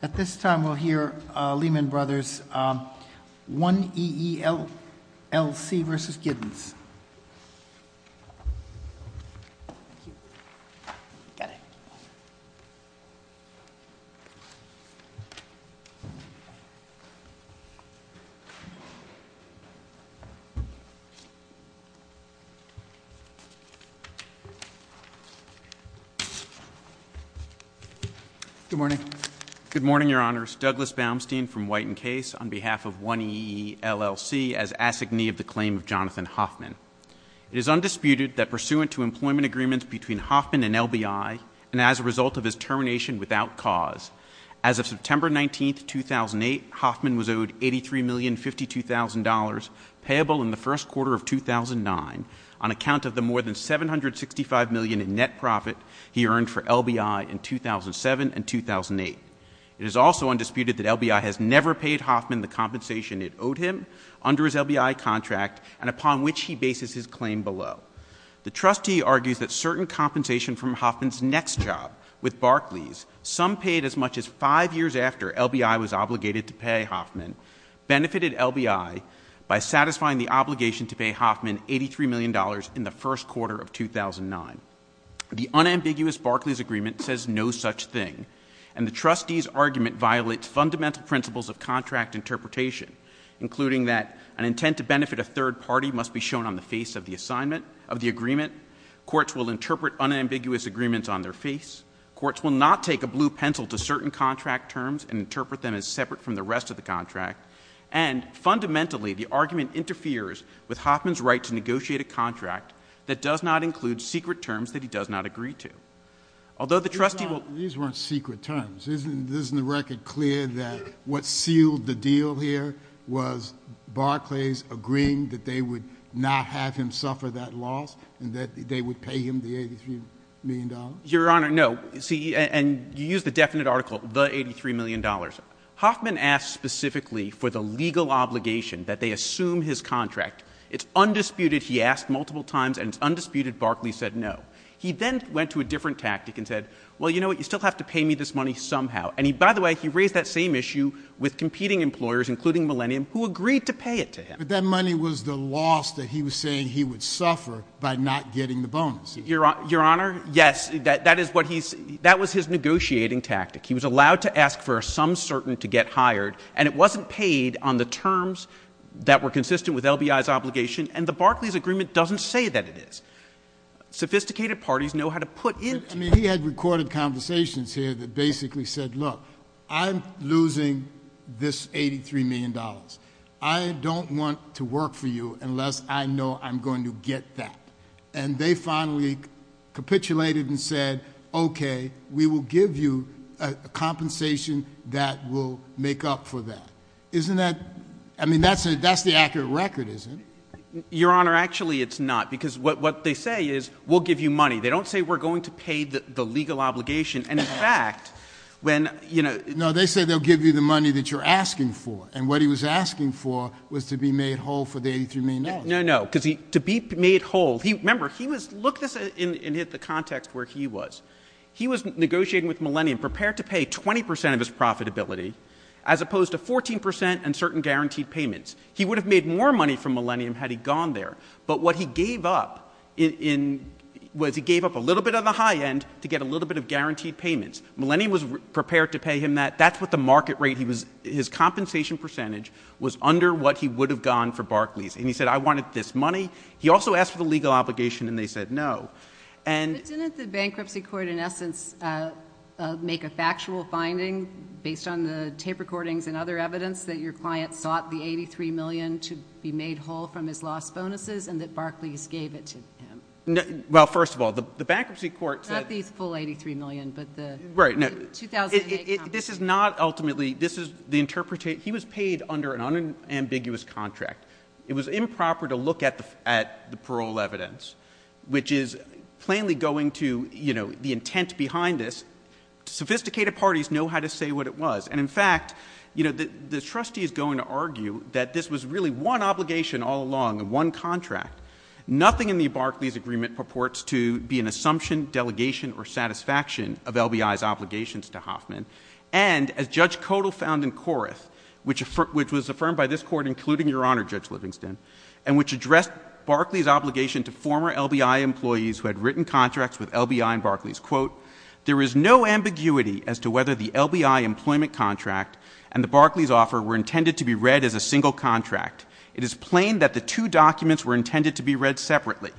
At this time we'll hear Lehman Brothers 1EELLC versus Giddens. Good morning. Good morning, Your Honors. Douglas Baumstein from White and Case on behalf of 1EELLC as It is undisputed that pursuant to employment agreements between Hoffman and LBI, and as a result of his termination without cause, as of September 19, 2008, Hoffman was owed $83,052,000 payable in the first quarter of 2009 on account of the more than $765 million in net profit he earned for LBI in 2007 and 2008. It is also undisputed that LBI has never paid Hoffman the compensation it owed him under his LBI contract and upon which he bases his claim below. The trustee argues that certain compensation from Hoffman's next job with Barclays, some paid as much as five years after LBI was obligated to pay Hoffman, benefited LBI by satisfying the obligation to pay Hoffman $83 million in the first quarter of 2009. The unambiguous Barclays agreement says no such thing, and the trustee's argument violates fundamental principles of contract interpretation, including that an intent to benefit a third party must be shown on the face of the assignment of the agreement, courts will interpret unambiguous agreements on their face, courts will not take a blue pencil to certain contract terms and interpret them as separate from the rest of the contract, and fundamentally, the argument interferes with Hoffman's right to negotiate a contract that does not include secret terms that he does not agree to. Although the trustee will — And you're saying that what sealed the deal here was Barclays agreeing that they would not have him suffer that loss and that they would pay him the $83 million? MR. RIEFFEL. Your Honor, no. See, and you use the definite article, the $83 million. Hoffman asked specifically for the legal obligation that they assume his contract. It's undisputed he asked multiple times, and it's undisputed Barclays said no. He then went to a different tactic and said, well, you know what, you still have to pay me this money somehow. And he — by the way, he raised that same issue with competing employers, including Millennium, who agreed to pay it to him. JUSTICE KENNEDY. But that money was the loss that he was saying he would suffer by not getting the bonus. MR. RIEFFEL. Your Honor, yes, that is what he's — that was his negotiating tactic. He was allowed to ask for some certain to get hired, and it wasn't paid on the terms that were consistent with LBI's obligation, and the Barclays agreement doesn't say that it is. Sophisticated parties know how to put into — JUSTICE KENNEDY. I mean, he had recorded conversations here that basically said, look, I'm losing this $83 million. I don't want to work for you unless I know I'm going to get that. And they finally capitulated and said, okay, we will give you a compensation that will make up for that. Isn't that — I mean, that's the accurate record, isn't it? MR. RIEFFEL. Your Honor, actually, it's not, because what they say is, we'll give you money. They don't say we're going to pay the legal obligation, and, in fact, when — JUSTICE KENNEDY. No, they say they'll give you the money that you're asking for, and what he was asking for was to be made whole for the $83 million. MR. RIEFFEL. No, no, because to be made whole — remember, he was — look at this in the context where he was. He was negotiating with Millennium, prepared to pay 20 percent of his profitability, as opposed to 14 percent and certain guaranteed payments. He would have made more money from Millennium had he gone there, but what he gave up was he gave up a little bit of the high end to get a little bit of guaranteed payments. Millennium was prepared to pay him that. That's what the market rate he was — his compensation percentage was under what he would have gone for Barclays, and he said, I wanted this money. He also asked for the legal obligation, and they said no, and — JUSTICE O'CONNOR. But didn't the bankruptcy court, in essence, make a factual finding based on the tape recordings and other evidence that your client sought the $83 million to be made whole from his lost bonuses and that Barclays gave it to him? MR. Well, the bankruptcy court said — JUSTICE O'CONNOR. Not the full $83 million, but the — MR. Right. Now — JUSTICE O'CONNOR. — 2008 compensation. MR. CLEMENT. This is not ultimately — this is the — he was paid under an unambiguous contract. It was improper to look at the parole evidence, which is plainly going to, you know, the intent behind this. Sophisticated parties know how to say what it was, and, in fact, you know, the trustee is going to argue that this was really one obligation all along and one contract. Nothing in the Barclays agreement purports to be an assumption, delegation, or satisfaction of LBI's obligations to Hoffman. And as Judge Kodal found in Corrath, which was affirmed by this Court, including Your Honor Judge Livingston, and which addressed Barclays' obligation to former LBI employees who had written contracts with LBI and Barclays, quote, there is no ambiguity as to whether the LBI employment contract and the Barclays offer were intended to be read as a single contract. It is plain that the two documents were intended to be read separately.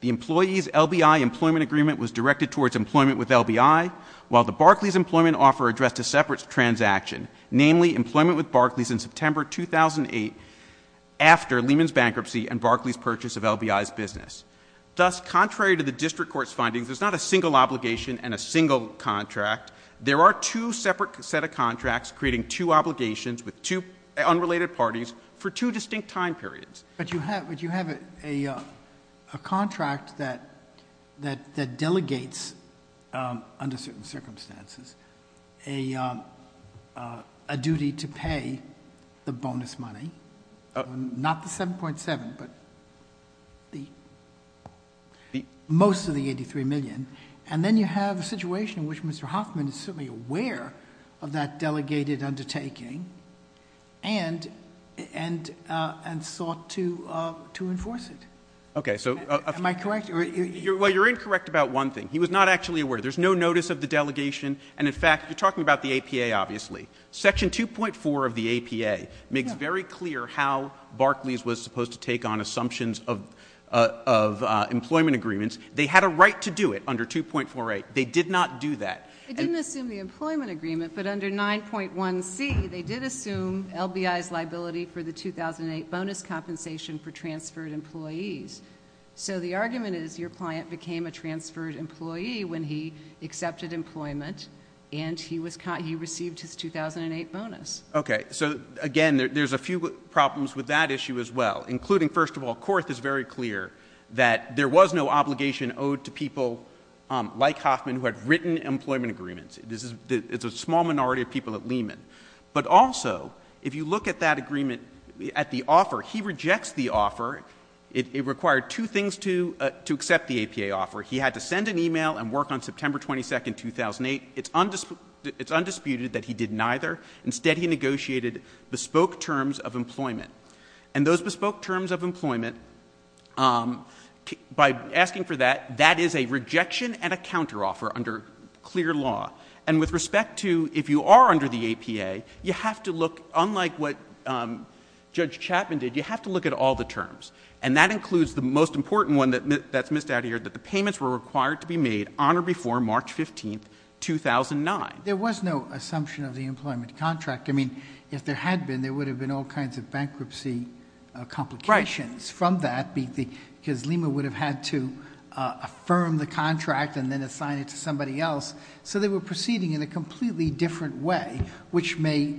The employee's LBI employment agreement was directed towards employment with LBI, while the Barclays employment offer addressed a separate transaction, namely employment with Barclays in September 2008 after Lehman's bankruptcy and Barclays' purchase of LBI's business. Thus, contrary to the district court's findings, there's not a single obligation and a single contract. There are two separate set of contracts creating two obligations with two unrelated parties for two distinct time periods. But you have a contract that delegates, under certain circumstances, a duty to pay the bonus money, not the $7.7 million, but most of the $83 million. And then you have a situation in which Mr. Hoffman is certainly aware of that delegated undertaking and, and, and sought to, to enforce it. Okay. So, am I correct? Well, you're incorrect about one thing. He was not actually aware. There's no notice of the delegation. And in fact, you're talking about the APA, obviously. Section 2.4 of the APA makes very clear how Barclays was supposed to take on assumptions of, of employment agreements. They had a right to do it under 2.48. They did not do that. They didn't assume the employment agreement, but under 9.1c, they did assume LBI's liability for the 2008 bonus compensation for transferred employees. So the argument is your client became a transferred employee when he accepted employment and he was, he received his 2008 bonus. Okay. So, again, there's a few problems with that issue as well, including, first of all, Korth is very clear that there was no obligation owed to people like Hoffman who had written employment agreements. This is, it's a small minority of people at Lehman. But also, if you look at that agreement, at the offer, he rejects the offer. It required two things to, to accept the APA offer. He had to send an email and work on September 22nd, 2008. It's undisputed, it's undisputed that he did neither. Instead, he negotiated bespoke terms of employment. And those bespoke terms of employment, um, by asking for that, that is a rejection and a counteroffer under clear law. And with respect to, if you are under the APA, you have to look, unlike what, um, Judge Chapman did, you have to look at all the terms. And that includes the most important one that, that's missed out here, that the payments were required to be made on or before March 15th, 2009. There was no assumption of the employment contract. I mean, if there had been, there would have been all kinds of bankruptcy, uh, complications from that because Lima would have had to, uh, affirm the contract and then assign it to somebody else. So they were proceeding in a completely different way, which may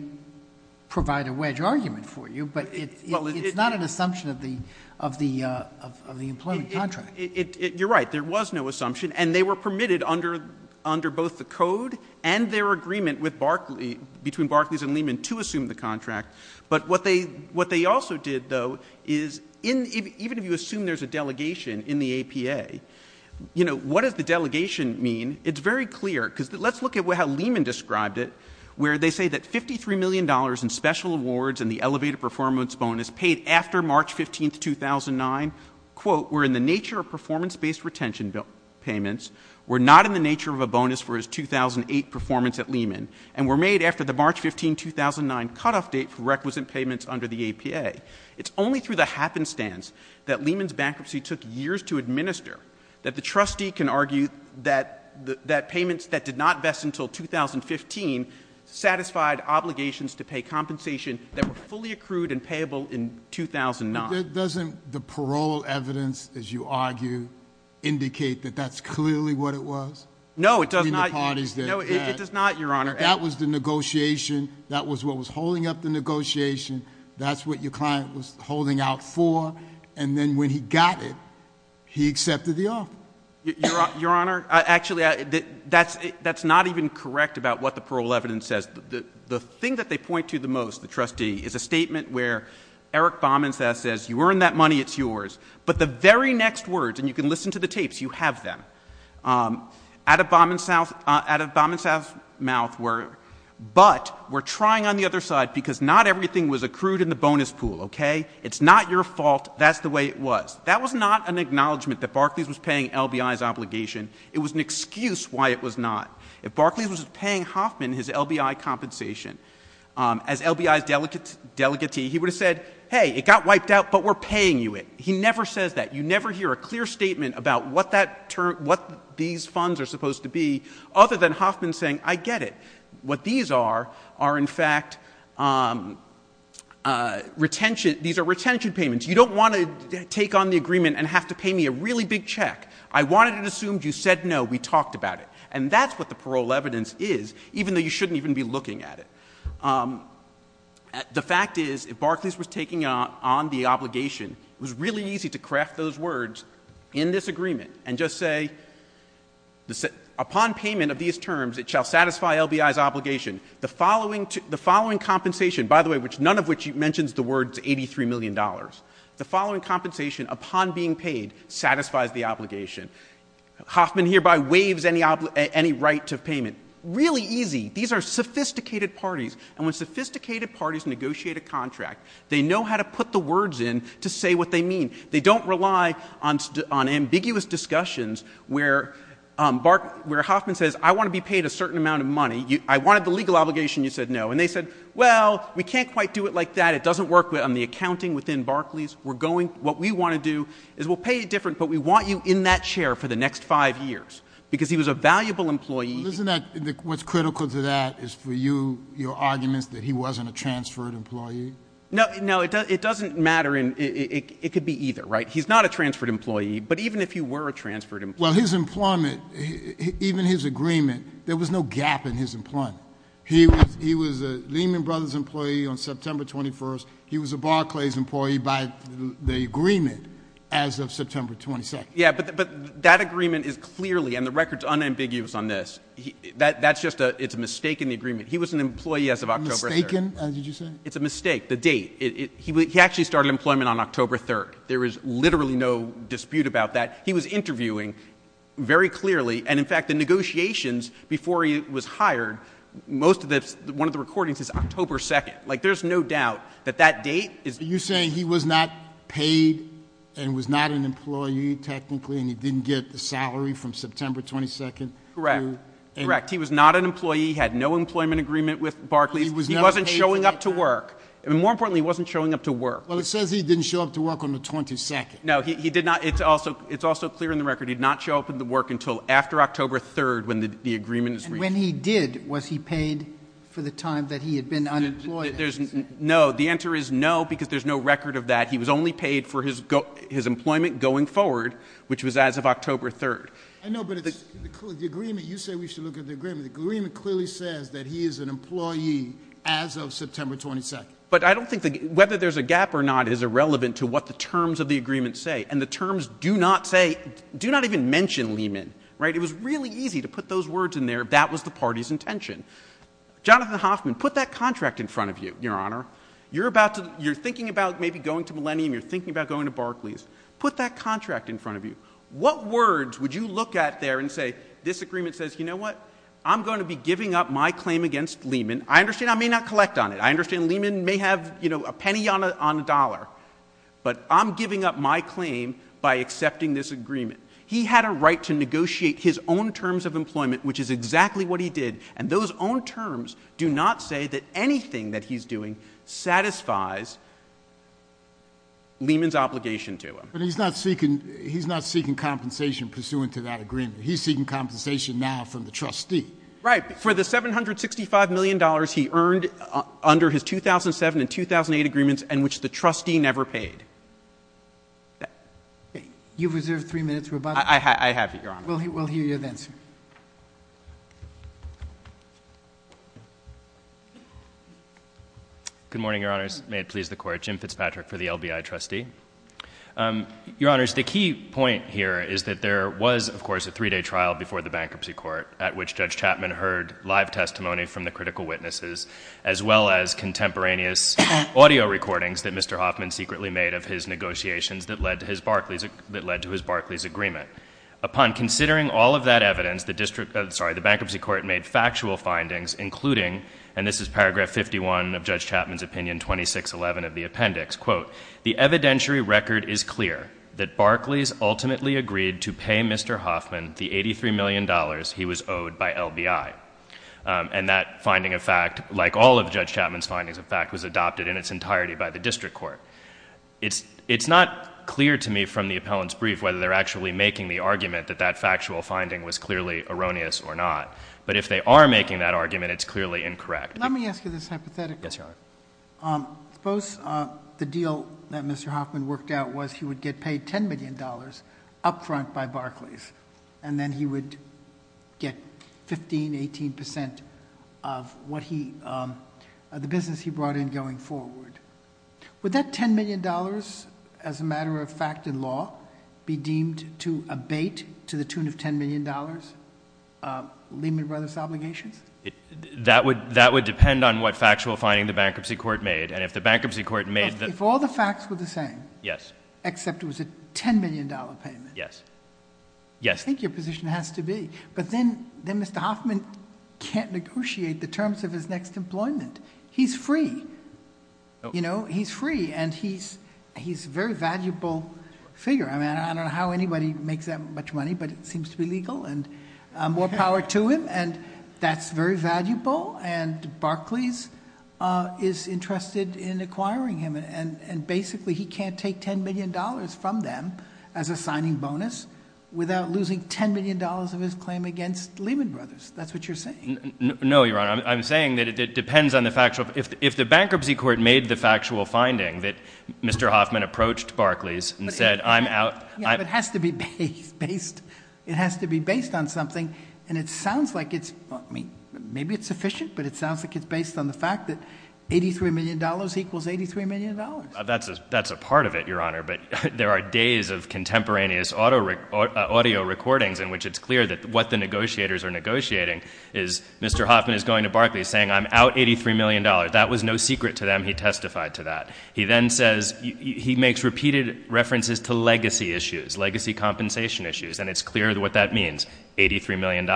provide a wedge argument for you, but it's not an assumption of the, of the, uh, of the employment contract. It, it, it, you're right. There was no assumption and they were permitted under, under both the code and their agreement with Barclays, between Barclays and Lima to assume the contract. But what they, what they also did though, is in, even if you assume there's a delegation in the APA, you know, what does the delegation mean? It's very clear because let's look at what, how Lehman described it, where they say that $53 million in special awards and the elevated performance bonus paid after March 15th, 2009, quote, we're in the nature of performance-based retention bill payments. We're not in the nature of a bonus for his 2008 performance at Lehman. And were made after the March 15, 2009 cutoff date for requisite payments under the APA. It's only through the happenstance that Lehman's bankruptcy took years to administer that the trustee can argue that the, that payments that did not vest until 2015 satisfied obligations to pay compensation that were fully accrued and payable in 2009. Doesn't the parole evidence, as you argue, indicate that that's clearly what it was? No, it does not. No, it does not, Your Honor. That was the negotiation. That was what was holding up the negotiation. That's what your client was holding out for. And then when he got it, he accepted the offer. Your Honor, actually, that's, that's not even correct about what the parole evidence says. The thing that they point to the most, the trustee, is a statement where Eric Bauman says, you earned that money, it's yours. But the very next words, and you can listen to the tapes, you have them. At a Bauman South, at a Bauman South mouth where, but we're trying on the other side because not everything was accrued in the bonus pool, okay? It's not your fault, that's the way it was. That was not an acknowledgement that Barclays was paying LBI's obligation. It was an excuse why it was not. If Barclays was paying Hoffman his LBI compensation, as LBI's delegate, he would have said, hey, it got wiped out, but we're paying you it. He never says that. You never hear a clear statement about what that term, what these funds are supposed to be, other than Hoffman saying, I get it. What these are, are in fact, retention, these are retention payments. You don't want to take on the agreement and have to pay me a really big check. I wanted it assumed you said no, we talked about it. And that's what the parole evidence is, even though you shouldn't even be looking at it. The fact is, if Barclays was taking on the obligation, it was really easy to craft those words in this agreement and just say, upon payment of these terms, it shall satisfy LBI's obligation. The following compensation, by the way, none of which mentions the words $83 million. The following compensation, upon being paid, satisfies the obligation. Hoffman hereby waives any right to payment. Really easy. These are sophisticated parties. And when sophisticated parties negotiate a contract, they know how to put the words in to say what they mean. They don't rely on ambiguous discussions where Hoffman says, I want to be paid a certain amount of money. I wanted the legal obligation, you said no. And they said, well, we can't quite do it like that. It doesn't work on the accounting within Barclays. We're going, what we want to do is we'll pay it different, but we want you in that chair for the next five years. Because he was a valuable employee. Isn't that, what's critical to that is for you, your arguments that he wasn't a transferred employee? No, it doesn't matter, it could be either, right? He's not a transferred employee, but even if he were a transferred employee- Well, his employment, even his agreement, there was no gap in his employment. He was a Lehman Brothers employee on September 21st. He was a Barclays employee by the agreement as of September 22nd. Yeah, but that agreement is clearly, and the record's unambiguous on this, that's just a, it's a mistake in the agreement. He was an employee as of October 3rd. Mistaken, did you say? It's a mistake, the date. He actually started employment on October 3rd. There is literally no dispute about that. He was interviewing very clearly, and in fact, the negotiations before he was hired, most of the, one of the recordings is October 2nd, like there's no doubt that that date is- You're saying he was not paid, and was not an employee, technically, and he didn't get the salary from September 22nd? Correct, correct, he was not an employee, he had no employment agreement with Barclays, he wasn't showing up to work. And more importantly, he wasn't showing up to work. Well, it says he didn't show up to work on the 22nd. No, he did not, it's also clear in the record, he did not show up to work until after October 3rd when the agreement was reached. And when he did, was he paid for the time that he had been unemployed? No, the answer is no, because there's no record of that. He was only paid for his employment going forward, which was as of October 3rd. I know, but the agreement, you say we should look at the agreement. The agreement clearly says that he is an employee as of September 22nd. But I don't think whether there's a gap or not is irrelevant to what the terms of the agreement say. And the terms do not say, do not even mention Lehman, right? It was really easy to put those words in there, that was the party's intention. Jonathan Hoffman, put that contract in front of you, your honor. You're thinking about maybe going to Millennium, you're thinking about going to Barclays. Put that contract in front of you. What words would you look at there and say, this agreement says, you know what? I'm going to be giving up my claim against Lehman. I understand I may not collect on it. I understand Lehman may have a penny on a dollar. But I'm giving up my claim by accepting this agreement. He had a right to negotiate his own terms of employment, which is exactly what he did. And those own terms do not say that anything that he's doing satisfies Lehman's obligation to him. But he's not seeking compensation pursuant to that agreement. He's seeking compensation now from the trustee. Right, for the $765 million he earned under his 2007 and 2008 agreements, and which the trustee never paid. You've reserved three minutes, we're about to- I have, your honor. We'll hear you then, sir. Good morning, your honors. May it please the court. Jim Fitzpatrick for the LBI trustee. Your honors, the key point here is that there was, of course, a three day trial before the bankruptcy court, at which Judge Chapman heard live testimony from the critical witnesses, as well as contemporaneous audio recordings that Mr. Hoffman secretly made of his negotiations that led to his Barclays agreement. Upon considering all of that evidence, the bankruptcy court made factual findings, including, and this is paragraph 51 of Judge Chapman's opinion, 2611 of the appendix, quote, the evidentiary record is clear that Barclays ultimately agreed to pay Mr. Hoffman the $83 million he was owed by LBI, and that finding, in fact, like all of Judge Chapman's findings, in fact, was adopted in its entirety by the district court. It's not clear to me from the appellant's brief whether they're actually making the argument that that factual finding was clearly erroneous or not. But if they are making that argument, it's clearly incorrect. Let me ask you this hypothetically. Yes, your honor. Suppose the deal that Mr. Hoffman worked out was he would get paid $10 million up front by Barclays. And then he would get 15, 18% of the business he brought in going forward. Would that $10 million, as a matter of fact in law, be deemed to abate to the tune of $10 million, Lehman Brothers Obligations? That would depend on what factual finding the bankruptcy court made, and if the bankruptcy court made- If all the facts were the same. Yes. Except it was a $10 million payment. Yes. Yes. I think your position has to be. But then Mr. Hoffman can't negotiate the terms of his next employment. He's free. You know, he's free. And he's a very valuable figure. I mean, I don't know how anybody makes that much money, but it seems to be legal and more power to him. And that's very valuable. And Barclays is interested in acquiring him. And basically he can't take $10 million from them as a signing bonus without losing $10 million of his claim against Lehman Brothers. That's what you're saying. No, your honor. I'm saying that it depends on the factual- If the bankruptcy court made the factual finding that Mr. Hoffman approached Barclays and said, I'm out- Yeah, but it has to be based on something. And it sounds like it's, I mean, maybe it's sufficient, but it sounds like it's based on the fact that $83 million equals $83 million. That's a part of it, your honor. But there are days of contemporaneous audio recordings in which it's clear that what the negotiators are negotiating is Mr. Hoffman is going to Barclays saying, I'm out $83 million. That was no secret to them. He testified to that. He then says, he makes repeated references to legacy issues, legacy compensation issues. And it's clear what that means, $83 million.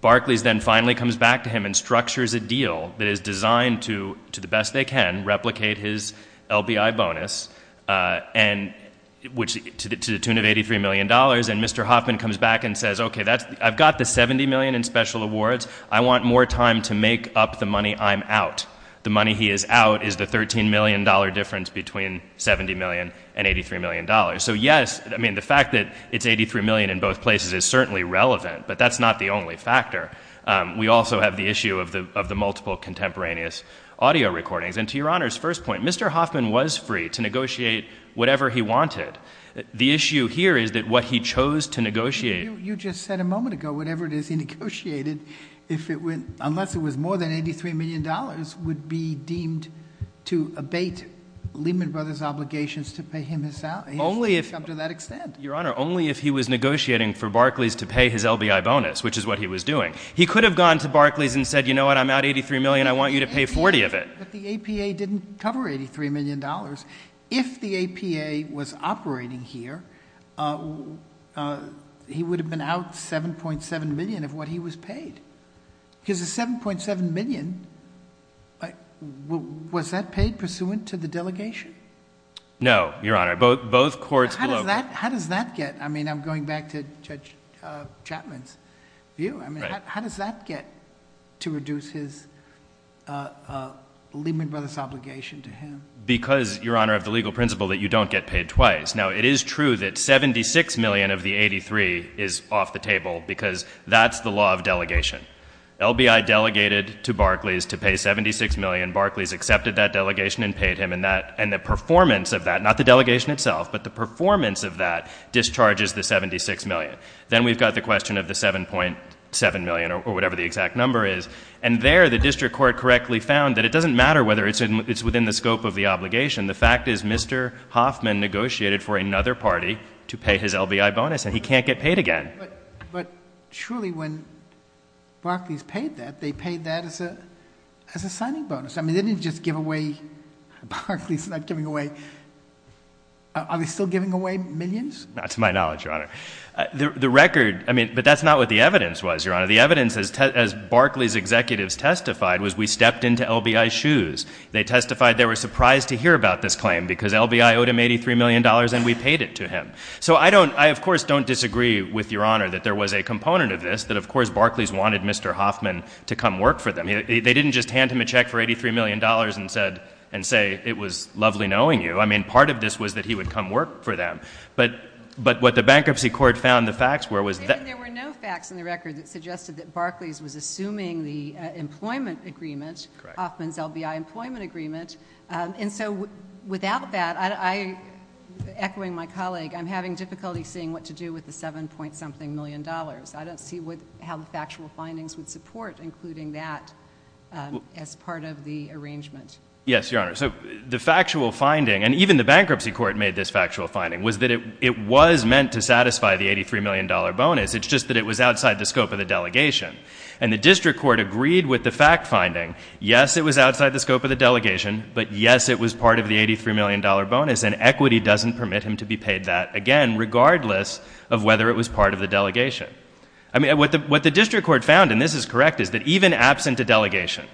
Barclays then finally comes back to him and structures a deal that is designed to, to the best they can, replicate his LBI bonus. And which, to the tune of $83 million, and Mr. Hoffman comes back and says, okay, that's, I've got the $70 million in special awards. I want more time to make up the money I'm out. The money he is out is the $13 million difference between $70 million and $83 million. So yes, I mean, the fact that it's 83 million in both places is certainly relevant, but that's not the only factor. We also have the issue of the multiple contemporaneous audio recordings. And to your honor's first point, Mr. Hoffman was free to negotiate whatever he wanted. The issue here is that what he chose to negotiate. You just said a moment ago, whatever it is he negotiated, unless it was more than $83 million, would be deemed to abate Lehman Brothers' obligations to pay him his salary, up to that extent. Your honor, only if he was negotiating for Barclays to pay his LBI bonus, which is what he was doing. He could have gone to Barclays and said, you know what, I'm out 83 million, I want you to pay 40 of it. But the APA didn't cover $83 million. If the APA was operating here, he would have been out 7.7 million of what he was paid. Because the 7.7 million, was that paid pursuant to the delegation? No, your honor, both courts- How does that get, I mean, I'm going back to Judge Chapman's view. I mean, how does that get to reduce his Lehman Brothers obligation to him? Because, your honor, of the legal principle that you don't get paid twice. Now, it is true that 76 million of the 83 is off the table, because that's the law of delegation. LBI delegated to Barclays to pay 76 million. Barclays accepted that delegation and paid him. And the performance of that, not the delegation itself, but the performance of that discharges the 76 million. Then we've got the question of the 7.7 million, or whatever the exact number is. And there, the district court correctly found that it doesn't matter whether it's within the scope of the obligation. The fact is, Mr. Hoffman negotiated for another party to pay his LBI bonus, and he can't get paid again. But surely, when Barclays paid that, they paid that as a signing bonus. I mean, they didn't just give away, Barclays not giving away, are they still giving away millions? Not to my knowledge, your honor. The record, I mean, but that's not what the evidence was, your honor. The evidence, as Barclays' executives testified, was we stepped into LBI's shoes. They testified they were surprised to hear about this claim, because LBI owed him $83 million and we paid it to him. So I, of course, don't disagree with your honor that there was a component of this, that of course, Barclays wanted Mr. Hoffman to come work for them. They didn't just hand him a check for $83 million and say, it was lovely knowing you. I mean, part of this was that he would come work for them. But what the bankruptcy court found, the facts were, was that- And so, without that, I, echoing my colleague, I'm having difficulty seeing what to do with the $7 point something million. I don't see what, how the factual findings would support including that as part of the arrangement. Yes, your honor. So the factual finding, and even the bankruptcy court made this factual finding, was that it was meant to satisfy the $83 million bonus. It's just that it was outside the scope of the delegation. And the district court agreed with the fact finding. Yes, it was outside the scope of the delegation, but yes, it was part of the $83 million bonus. And equity doesn't permit him to be paid that, again, regardless of whether it was part of the delegation. I mean, what the district court found, and this is correct, is that even absent a delegation,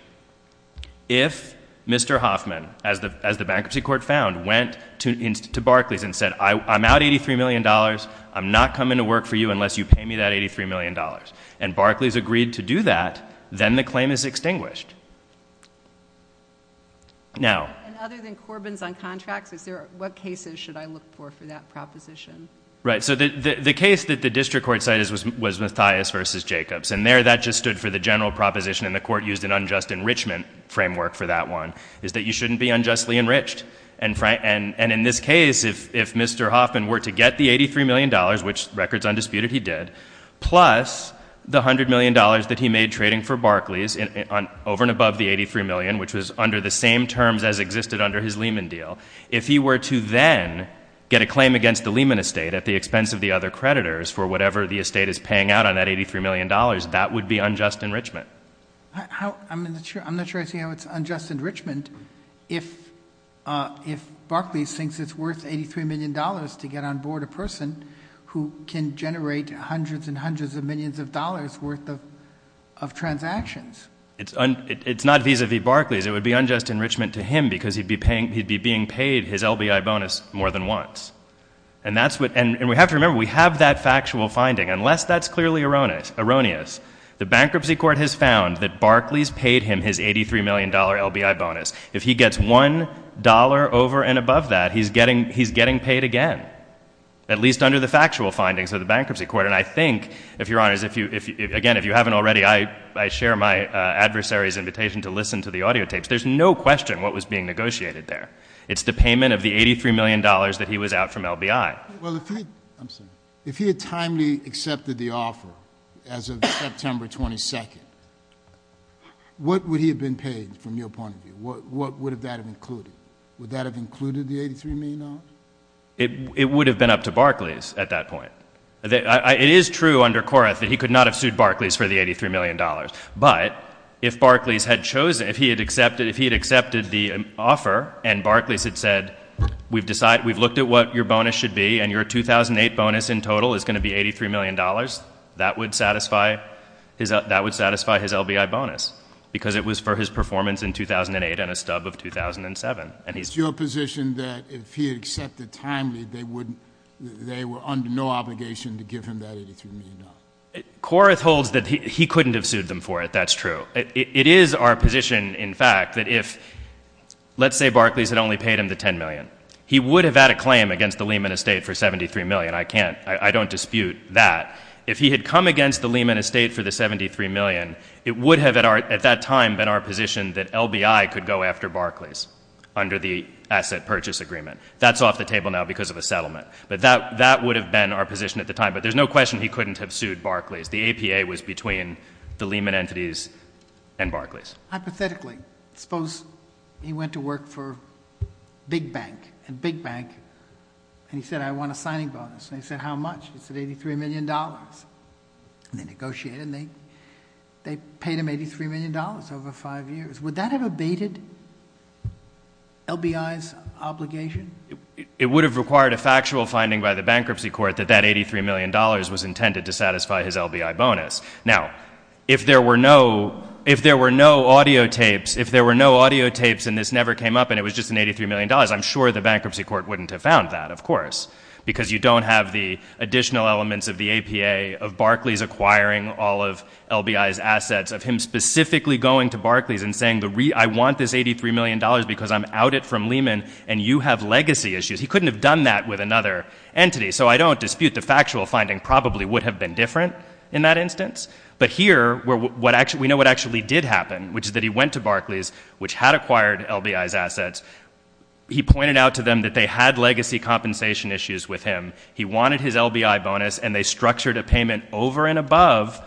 if Mr. Hoffman, as the bankruptcy court found, went to Barclays and said, I'm out $83 million, I'm not coming to work for you unless you pay me that $83 million. And Barclays agreed to do that, then the claim is extinguished. Now- And other than Corbin's on contracts, what cases should I look for for that proposition? Right, so the case that the district court cited was Mathias versus Jacobs. And there, that just stood for the general proposition, and the court used an unjust enrichment framework for that one, is that you shouldn't be unjustly enriched. And in this case, if Mr. Hoffman were to get the $83 million, which record's undisputed, he did. Plus, the $100 million that he made trading for Barclays, over and above the 83 million, which was under the same terms as existed under his Lehman deal. If he were to then get a claim against the Lehman estate at the expense of the other creditors for whatever the estate is paying out on that $83 million, that would be unjust enrichment. I'm not sure I see how it's unjust enrichment. If Barclays thinks it's worth $83 million to get on board a person who can generate hundreds and hundreds of millions of dollars worth of transactions. It's not vis-a-vis Barclays, it would be unjust enrichment to him because he'd be being paid his LBI bonus more than once. And we have to remember, we have that factual finding. Unless that's clearly erroneous, the bankruptcy court has found that Barclays paid him his $83 million LBI bonus. If he gets $1 over and above that, he's getting paid again. At least under the factual findings of the bankruptcy court. And I think, if you're honest, again, if you haven't already, I share my adversary's invitation to listen to the audio tapes. There's no question what was being negotiated there. It's the payment of the $83 million that he was out from LBI. Well, if he had timely accepted the offer as of September 22nd, what would he have been paid from your point of view? What would that have included? Would that have included the $83 million? It would have been up to Barclays at that point. It is true under Koreff that he could not have sued Barclays for the $83 million. But if Barclays had chosen, if he had accepted the offer and Barclays had said, we've looked at what your bonus should be and your 2008 bonus in total is going to be $83 million. That would satisfy his LBI bonus, because it was for his performance in 2008 and a stub of 2007. Is your position that if he had accepted timely, they were under no obligation to give him that $83 million? Koreff holds that he couldn't have sued them for it, that's true. It is our position, in fact, that if, let's say Barclays had only paid him the $10 million. He would have had a claim against the Lehman Estate for $73 million. I can't, I don't dispute that. If he had come against the Lehman Estate for the $73 million, it would have, at that time, been our position that LBI could go after Barclays under the asset purchase agreement. That's off the table now because of a settlement. But that would have been our position at the time. But there's no question he couldn't have sued Barclays. The APA was between the Lehman entities and Barclays. Hypothetically, suppose he went to work for Big Bank. And Big Bank, and he said, I want a signing bonus. And they said, how much? He said, $83 million. And they negotiated, and they paid him $83 million over five years. Would that have abated LBI's obligation? It would have required a factual finding by the bankruptcy court that that $83 million was intended to satisfy his LBI bonus. Now, if there were no audio tapes, and this never came up, and it was just an $83 million. I'm sure the bankruptcy court wouldn't have found that, of course. Because you don't have the additional elements of the APA, of Barclays acquiring all of LBI's assets, of him specifically going to Barclays and saying, I want this $83 million because I'm out it from Lehman, and you have legacy issues. He couldn't have done that with another entity. So I don't dispute the factual finding probably would have been different in that instance. But here, we know what actually did happen, which is that he went to Barclays, which had acquired LBI's assets. He pointed out to them that they had legacy compensation issues with him. He wanted his LBI bonus, and they structured a payment over and above.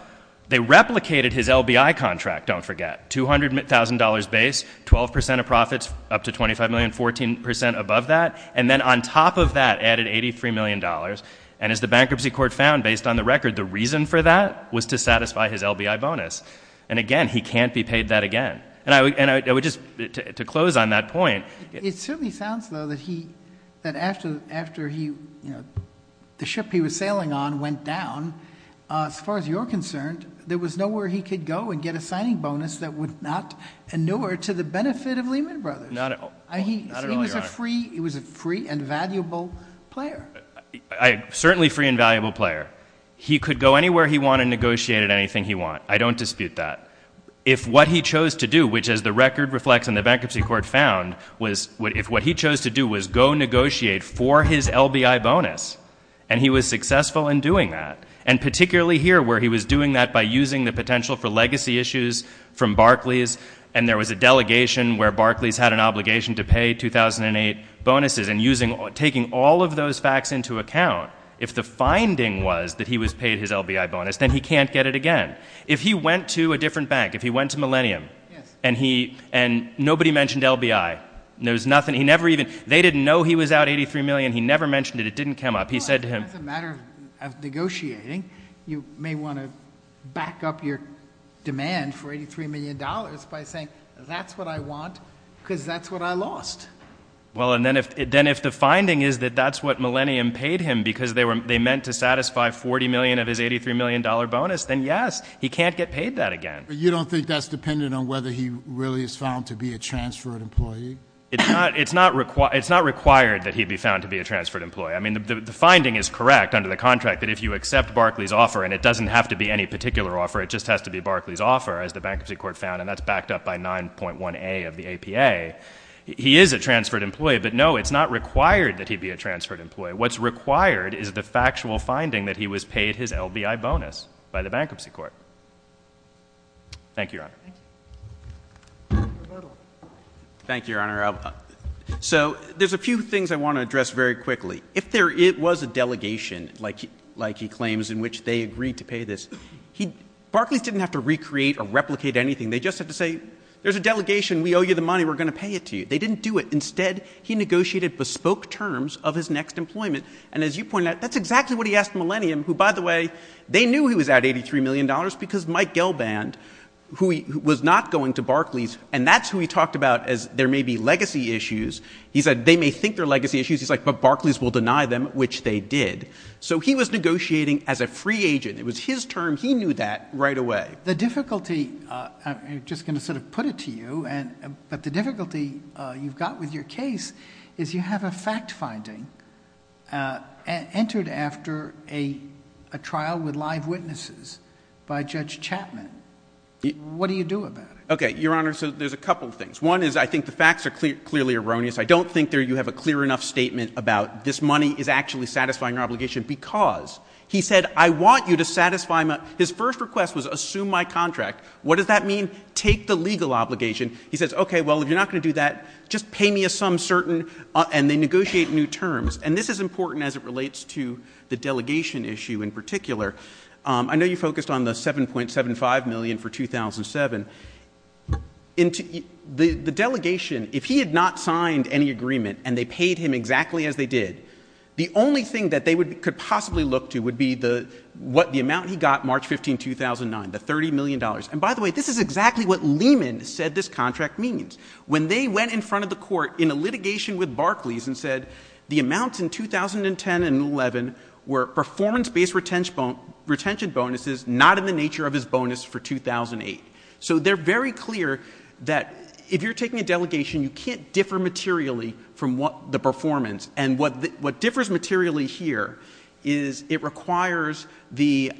They replicated his LBI contract, don't forget. $200,000 base, 12% of profits, up to $25 million, 14% above that. And then on top of that, added $83 million. And as the bankruptcy court found, based on the record, the reason for that was to satisfy his LBI bonus. And again, he can't be paid that again. And I would just, to close on that point. It certainly sounds, though, that after the ship he was sailing on went down, as far as you're concerned, there was nowhere he could go and get a signing bonus that would not inure to the benefit of Lehman Brothers. Not at all, not at all, your honor. He was a free and valuable player. I'm certainly a free and valuable player. He could go anywhere he wanted and negotiate at anything he wanted. I don't dispute that. If what he chose to do, which as the record reflects and the bankruptcy court found, if what he chose to do was go negotiate for his LBI bonus, and he was successful in doing that. And particularly here, where he was doing that by using the potential for legacy issues from Barclays. And there was a delegation where Barclays had an obligation to pay 2008 bonuses. And taking all of those facts into account, if the finding was that he was paid his LBI bonus, then he can't get it again. If he went to a different bank, if he went to Millennium, and nobody mentioned LBI. There was nothing, he never even, they didn't know he was out 83 million, he never mentioned it, it didn't come up. He said to him- As a matter of negotiating, you may want to back up your demand for $83 million by saying that's what I want because that's what I lost. Well, and then if the finding is that that's what Millennium paid him because they meant to satisfy $40 million of his $83 million bonus, then yes, he can't get paid that again. But you don't think that's dependent on whether he really is found to be a transferred employee? It's not required that he be found to be a transferred employee. I mean, the finding is correct under the contract that if you accept Barclays' offer, and it doesn't have to be any particular offer. It just has to be Barclays' offer, as the bankruptcy court found, and that's backed up by 9.1A of the APA. He is a transferred employee, but no, it's not required that he be a transferred employee. What's required is the factual finding that he was paid his LBI bonus by the bankruptcy court. Thank you, Your Honor. Thank you. Thank you, Your Honor. So, there's a few things I want to address very quickly. If there was a delegation, like he claims, in which they agreed to pay this, Barclays didn't have to recreate or replicate anything. They just had to say, there's a delegation, we owe you the money, we're going to pay it to you. They didn't do it. Instead, he negotiated bespoke terms of his next employment. And as you pointed out, that's exactly what he asked Millennium, who, by the way, they knew he was at $83 million because Mike Gelband, who was not going to Barclays, and that's who he talked about as there may be legacy issues. He said, they may think they're legacy issues. He's like, but Barclays will deny them, which they did. So, he was negotiating as a free agent. It was his term. He knew that right away. The difficulty, I'm just going to sort of put it to you, but the difficulty you've got with your case is you have a fact finding entered after a trial with live witnesses by Judge Chapman. What do you do about it? Okay, Your Honor, so there's a couple of things. One is, I think the facts are clearly erroneous. I don't think you have a clear enough statement about this money is actually satisfying your obligation because, he said, I want you to satisfy my, his first request was assume my contract. What does that mean? Take the legal obligation. He says, okay, well, if you're not going to do that, just pay me a sum certain, and they negotiate new terms. And this is important as it relates to the delegation issue in particular. I know you focused on the $7.75 million for 2007. The delegation, if he had not signed any agreement and they paid him exactly as they did, the only thing that they could possibly look to would be what the amount he got March 15, 2009, the $30 million. And by the way, this is exactly what Lehman said this contract means. When they went in front of the court in a litigation with Barclays and said, the amounts in 2010 and 11 were performance-based retention bonuses, not in the nature of his bonus for 2008. So they're very clear that if you're taking a delegation, you can't differ materially from the performance. And what differs materially here is it requires the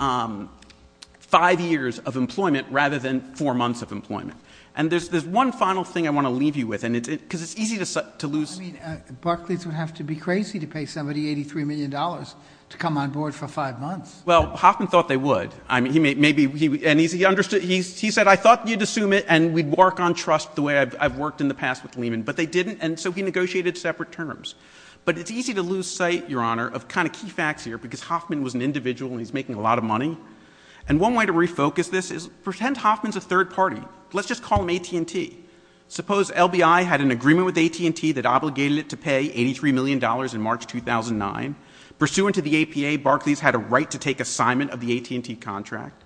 five years of employment rather than four months of employment. And there's one final thing I want to leave you with, because it's easy to lose- I mean, Barclays would have to be crazy to pay somebody $83 million to come on board for five months. Well, Hoffman thought they would. I mean, he said, I thought you'd assume it and we'd work on trust the way I've worked in the past with Lehman. But they didn't, and so he negotiated separate terms. But it's easy to lose sight, Your Honor, of kind of key facts here, because Hoffman was an individual and he's making a lot of money. And one way to refocus this is, pretend Hoffman's a third party. Let's just call him AT&T. Suppose LBI had an agreement with AT&T that obligated it to pay $83 million in March 2009. Pursuant to the APA, Barclays had a right to take assignment of the AT&T contract.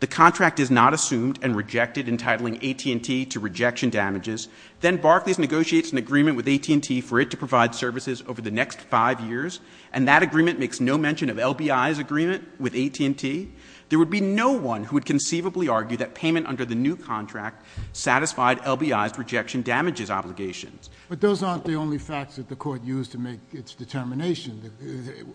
The contract is not assumed and rejected, entitling AT&T to rejection damages. Then Barclays negotiates an agreement with AT&T for it to provide services over the next five years. And that agreement makes no mention of LBI's agreement with AT&T. There would be no one who would conceivably argue that payment under the new contract satisfied LBI's rejection damages obligations. But those aren't the only facts that the court used to make its determination.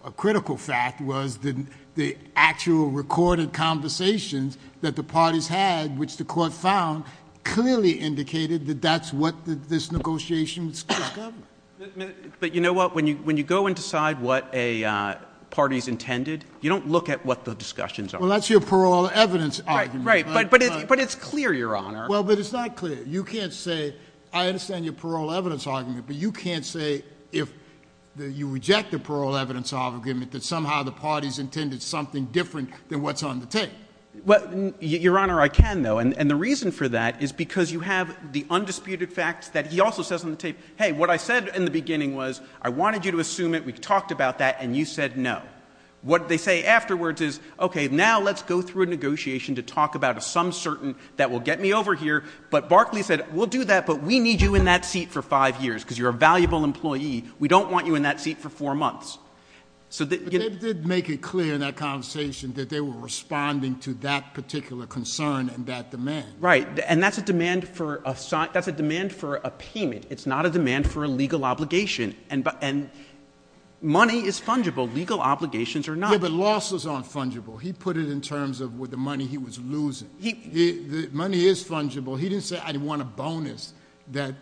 A critical fact was that the actual recorded conversations that the parties had, which the court found, clearly indicated that that's what this negotiation was going to cover. But you know what, when you go and decide what a party's intended, you don't look at what the discussions are. Well, that's your parole evidence argument. Right, but it's clear, Your Honor. Well, but it's not clear. You can't say, I understand your parole evidence argument, but you can't say if you reject the parole evidence argument, that somehow the party's intended something different than what's on the tape. Well, Your Honor, I can, though, and the reason for that is because you have the undisputed facts that he also says on the tape. Hey, what I said in the beginning was, I wanted you to assume it, we talked about that, and you said no. What they say afterwards is, okay, now let's go through a negotiation to talk about a some certain that will get me over here. But Barclay said, we'll do that, but we need you in that seat for five years, because you're a valuable employee. We don't want you in that seat for four months. So that- But they did make it clear in that conversation that they were responding to that particular concern and that demand. Right, and that's a demand for a payment. It's not a demand for a legal obligation, and money is fungible. Legal obligations are not. Yeah, but losses aren't fungible. He put it in terms of with the money he was losing. The money is fungible. He didn't say, I want a bonus that's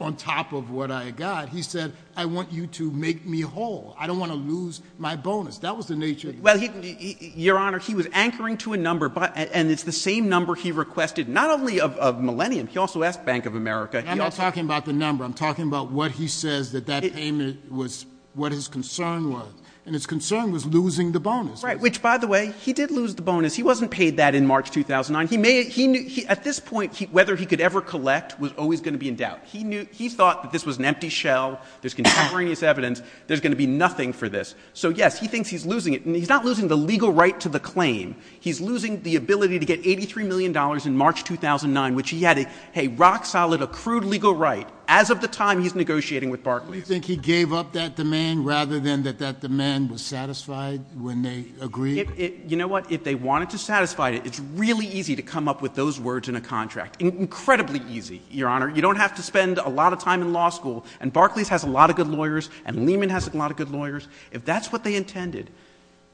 on top of what I got. He said, I want you to make me whole. I don't want to lose my bonus. That was the nature of- Well, your honor, he was anchoring to a number, and it's the same number he requested, not only of Millennium, he also asked Bank of America. I'm not talking about the number. I'm talking about what he says that that payment was, what his concern was. And his concern was losing the bonus. Right, which by the way, he did lose the bonus. He wasn't paid that in March 2009. He knew, at this point, whether he could ever collect was always going to be in doubt. He thought that this was an empty shell. There's contemporaneous evidence. There's going to be nothing for this. So yes, he thinks he's losing it, and he's not losing the legal right to the claim. He's losing the ability to get $83 million in March 2009, which he had a rock solid accrued legal right as of the time he's negotiating with Barclays. Do you think he gave up that demand rather than that that demand was satisfied when they agreed? You know what, if they wanted to satisfy it, it's really easy to come up with those words in a contract. Incredibly easy, your honor. You don't have to spend a lot of time in law school, and Barclays has a lot of good lawyers, and Lehman has a lot of good lawyers. If that's what they intended,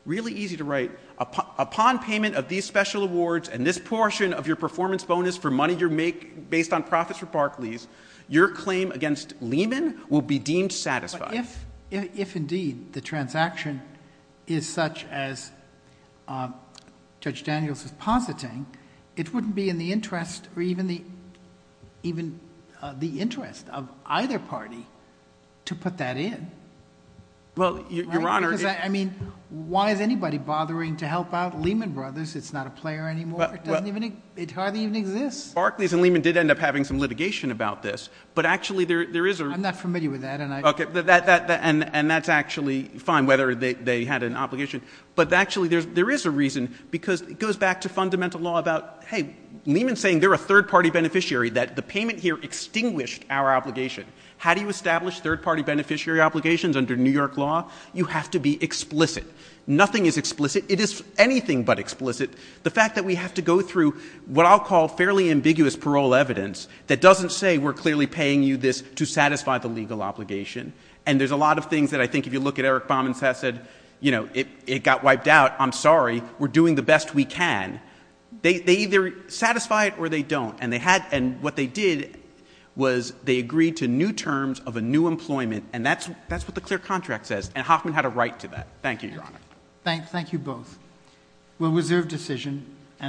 really easy to write. Upon payment of these special awards and this portion of your performance bonus for money you make based on profits for Barclays, your claim against Lehman will be deemed satisfied. If indeed the transaction is such as Judge Daniels is positing, it wouldn't be in the interest or even the interest of either party to put that in. Well, your honor- Because I mean, why is anybody bothering to help out Lehman Brothers? It's not a player anymore, it hardly even exists. Barclays and Lehman did end up having some litigation about this, but actually there is a- I'm not familiar with that and I- Okay, and that's actually fine, whether they had an obligation. But actually there is a reason, because it goes back to fundamental law about, hey, Lehman's saying they're a third party beneficiary, that the payment here extinguished our obligation. How do you establish third party beneficiary obligations under New York law? You have to be explicit. Nothing is explicit. It is anything but explicit. The fact that we have to go through what I'll call fairly ambiguous parole evidence, that doesn't say we're clearly paying you this to satisfy the legal obligation. And there's a lot of things that I think if you look at Eric Bauman's test that said, you know, it got wiped out, I'm sorry, we're doing the best we can. They either satisfy it or they don't. And they had- and what they did was they agreed to new terms of a new employment, and that's what the clear contract says. And Hoffman had a right to that. Thank you, your honor. Thank you both. We'll reserve decision.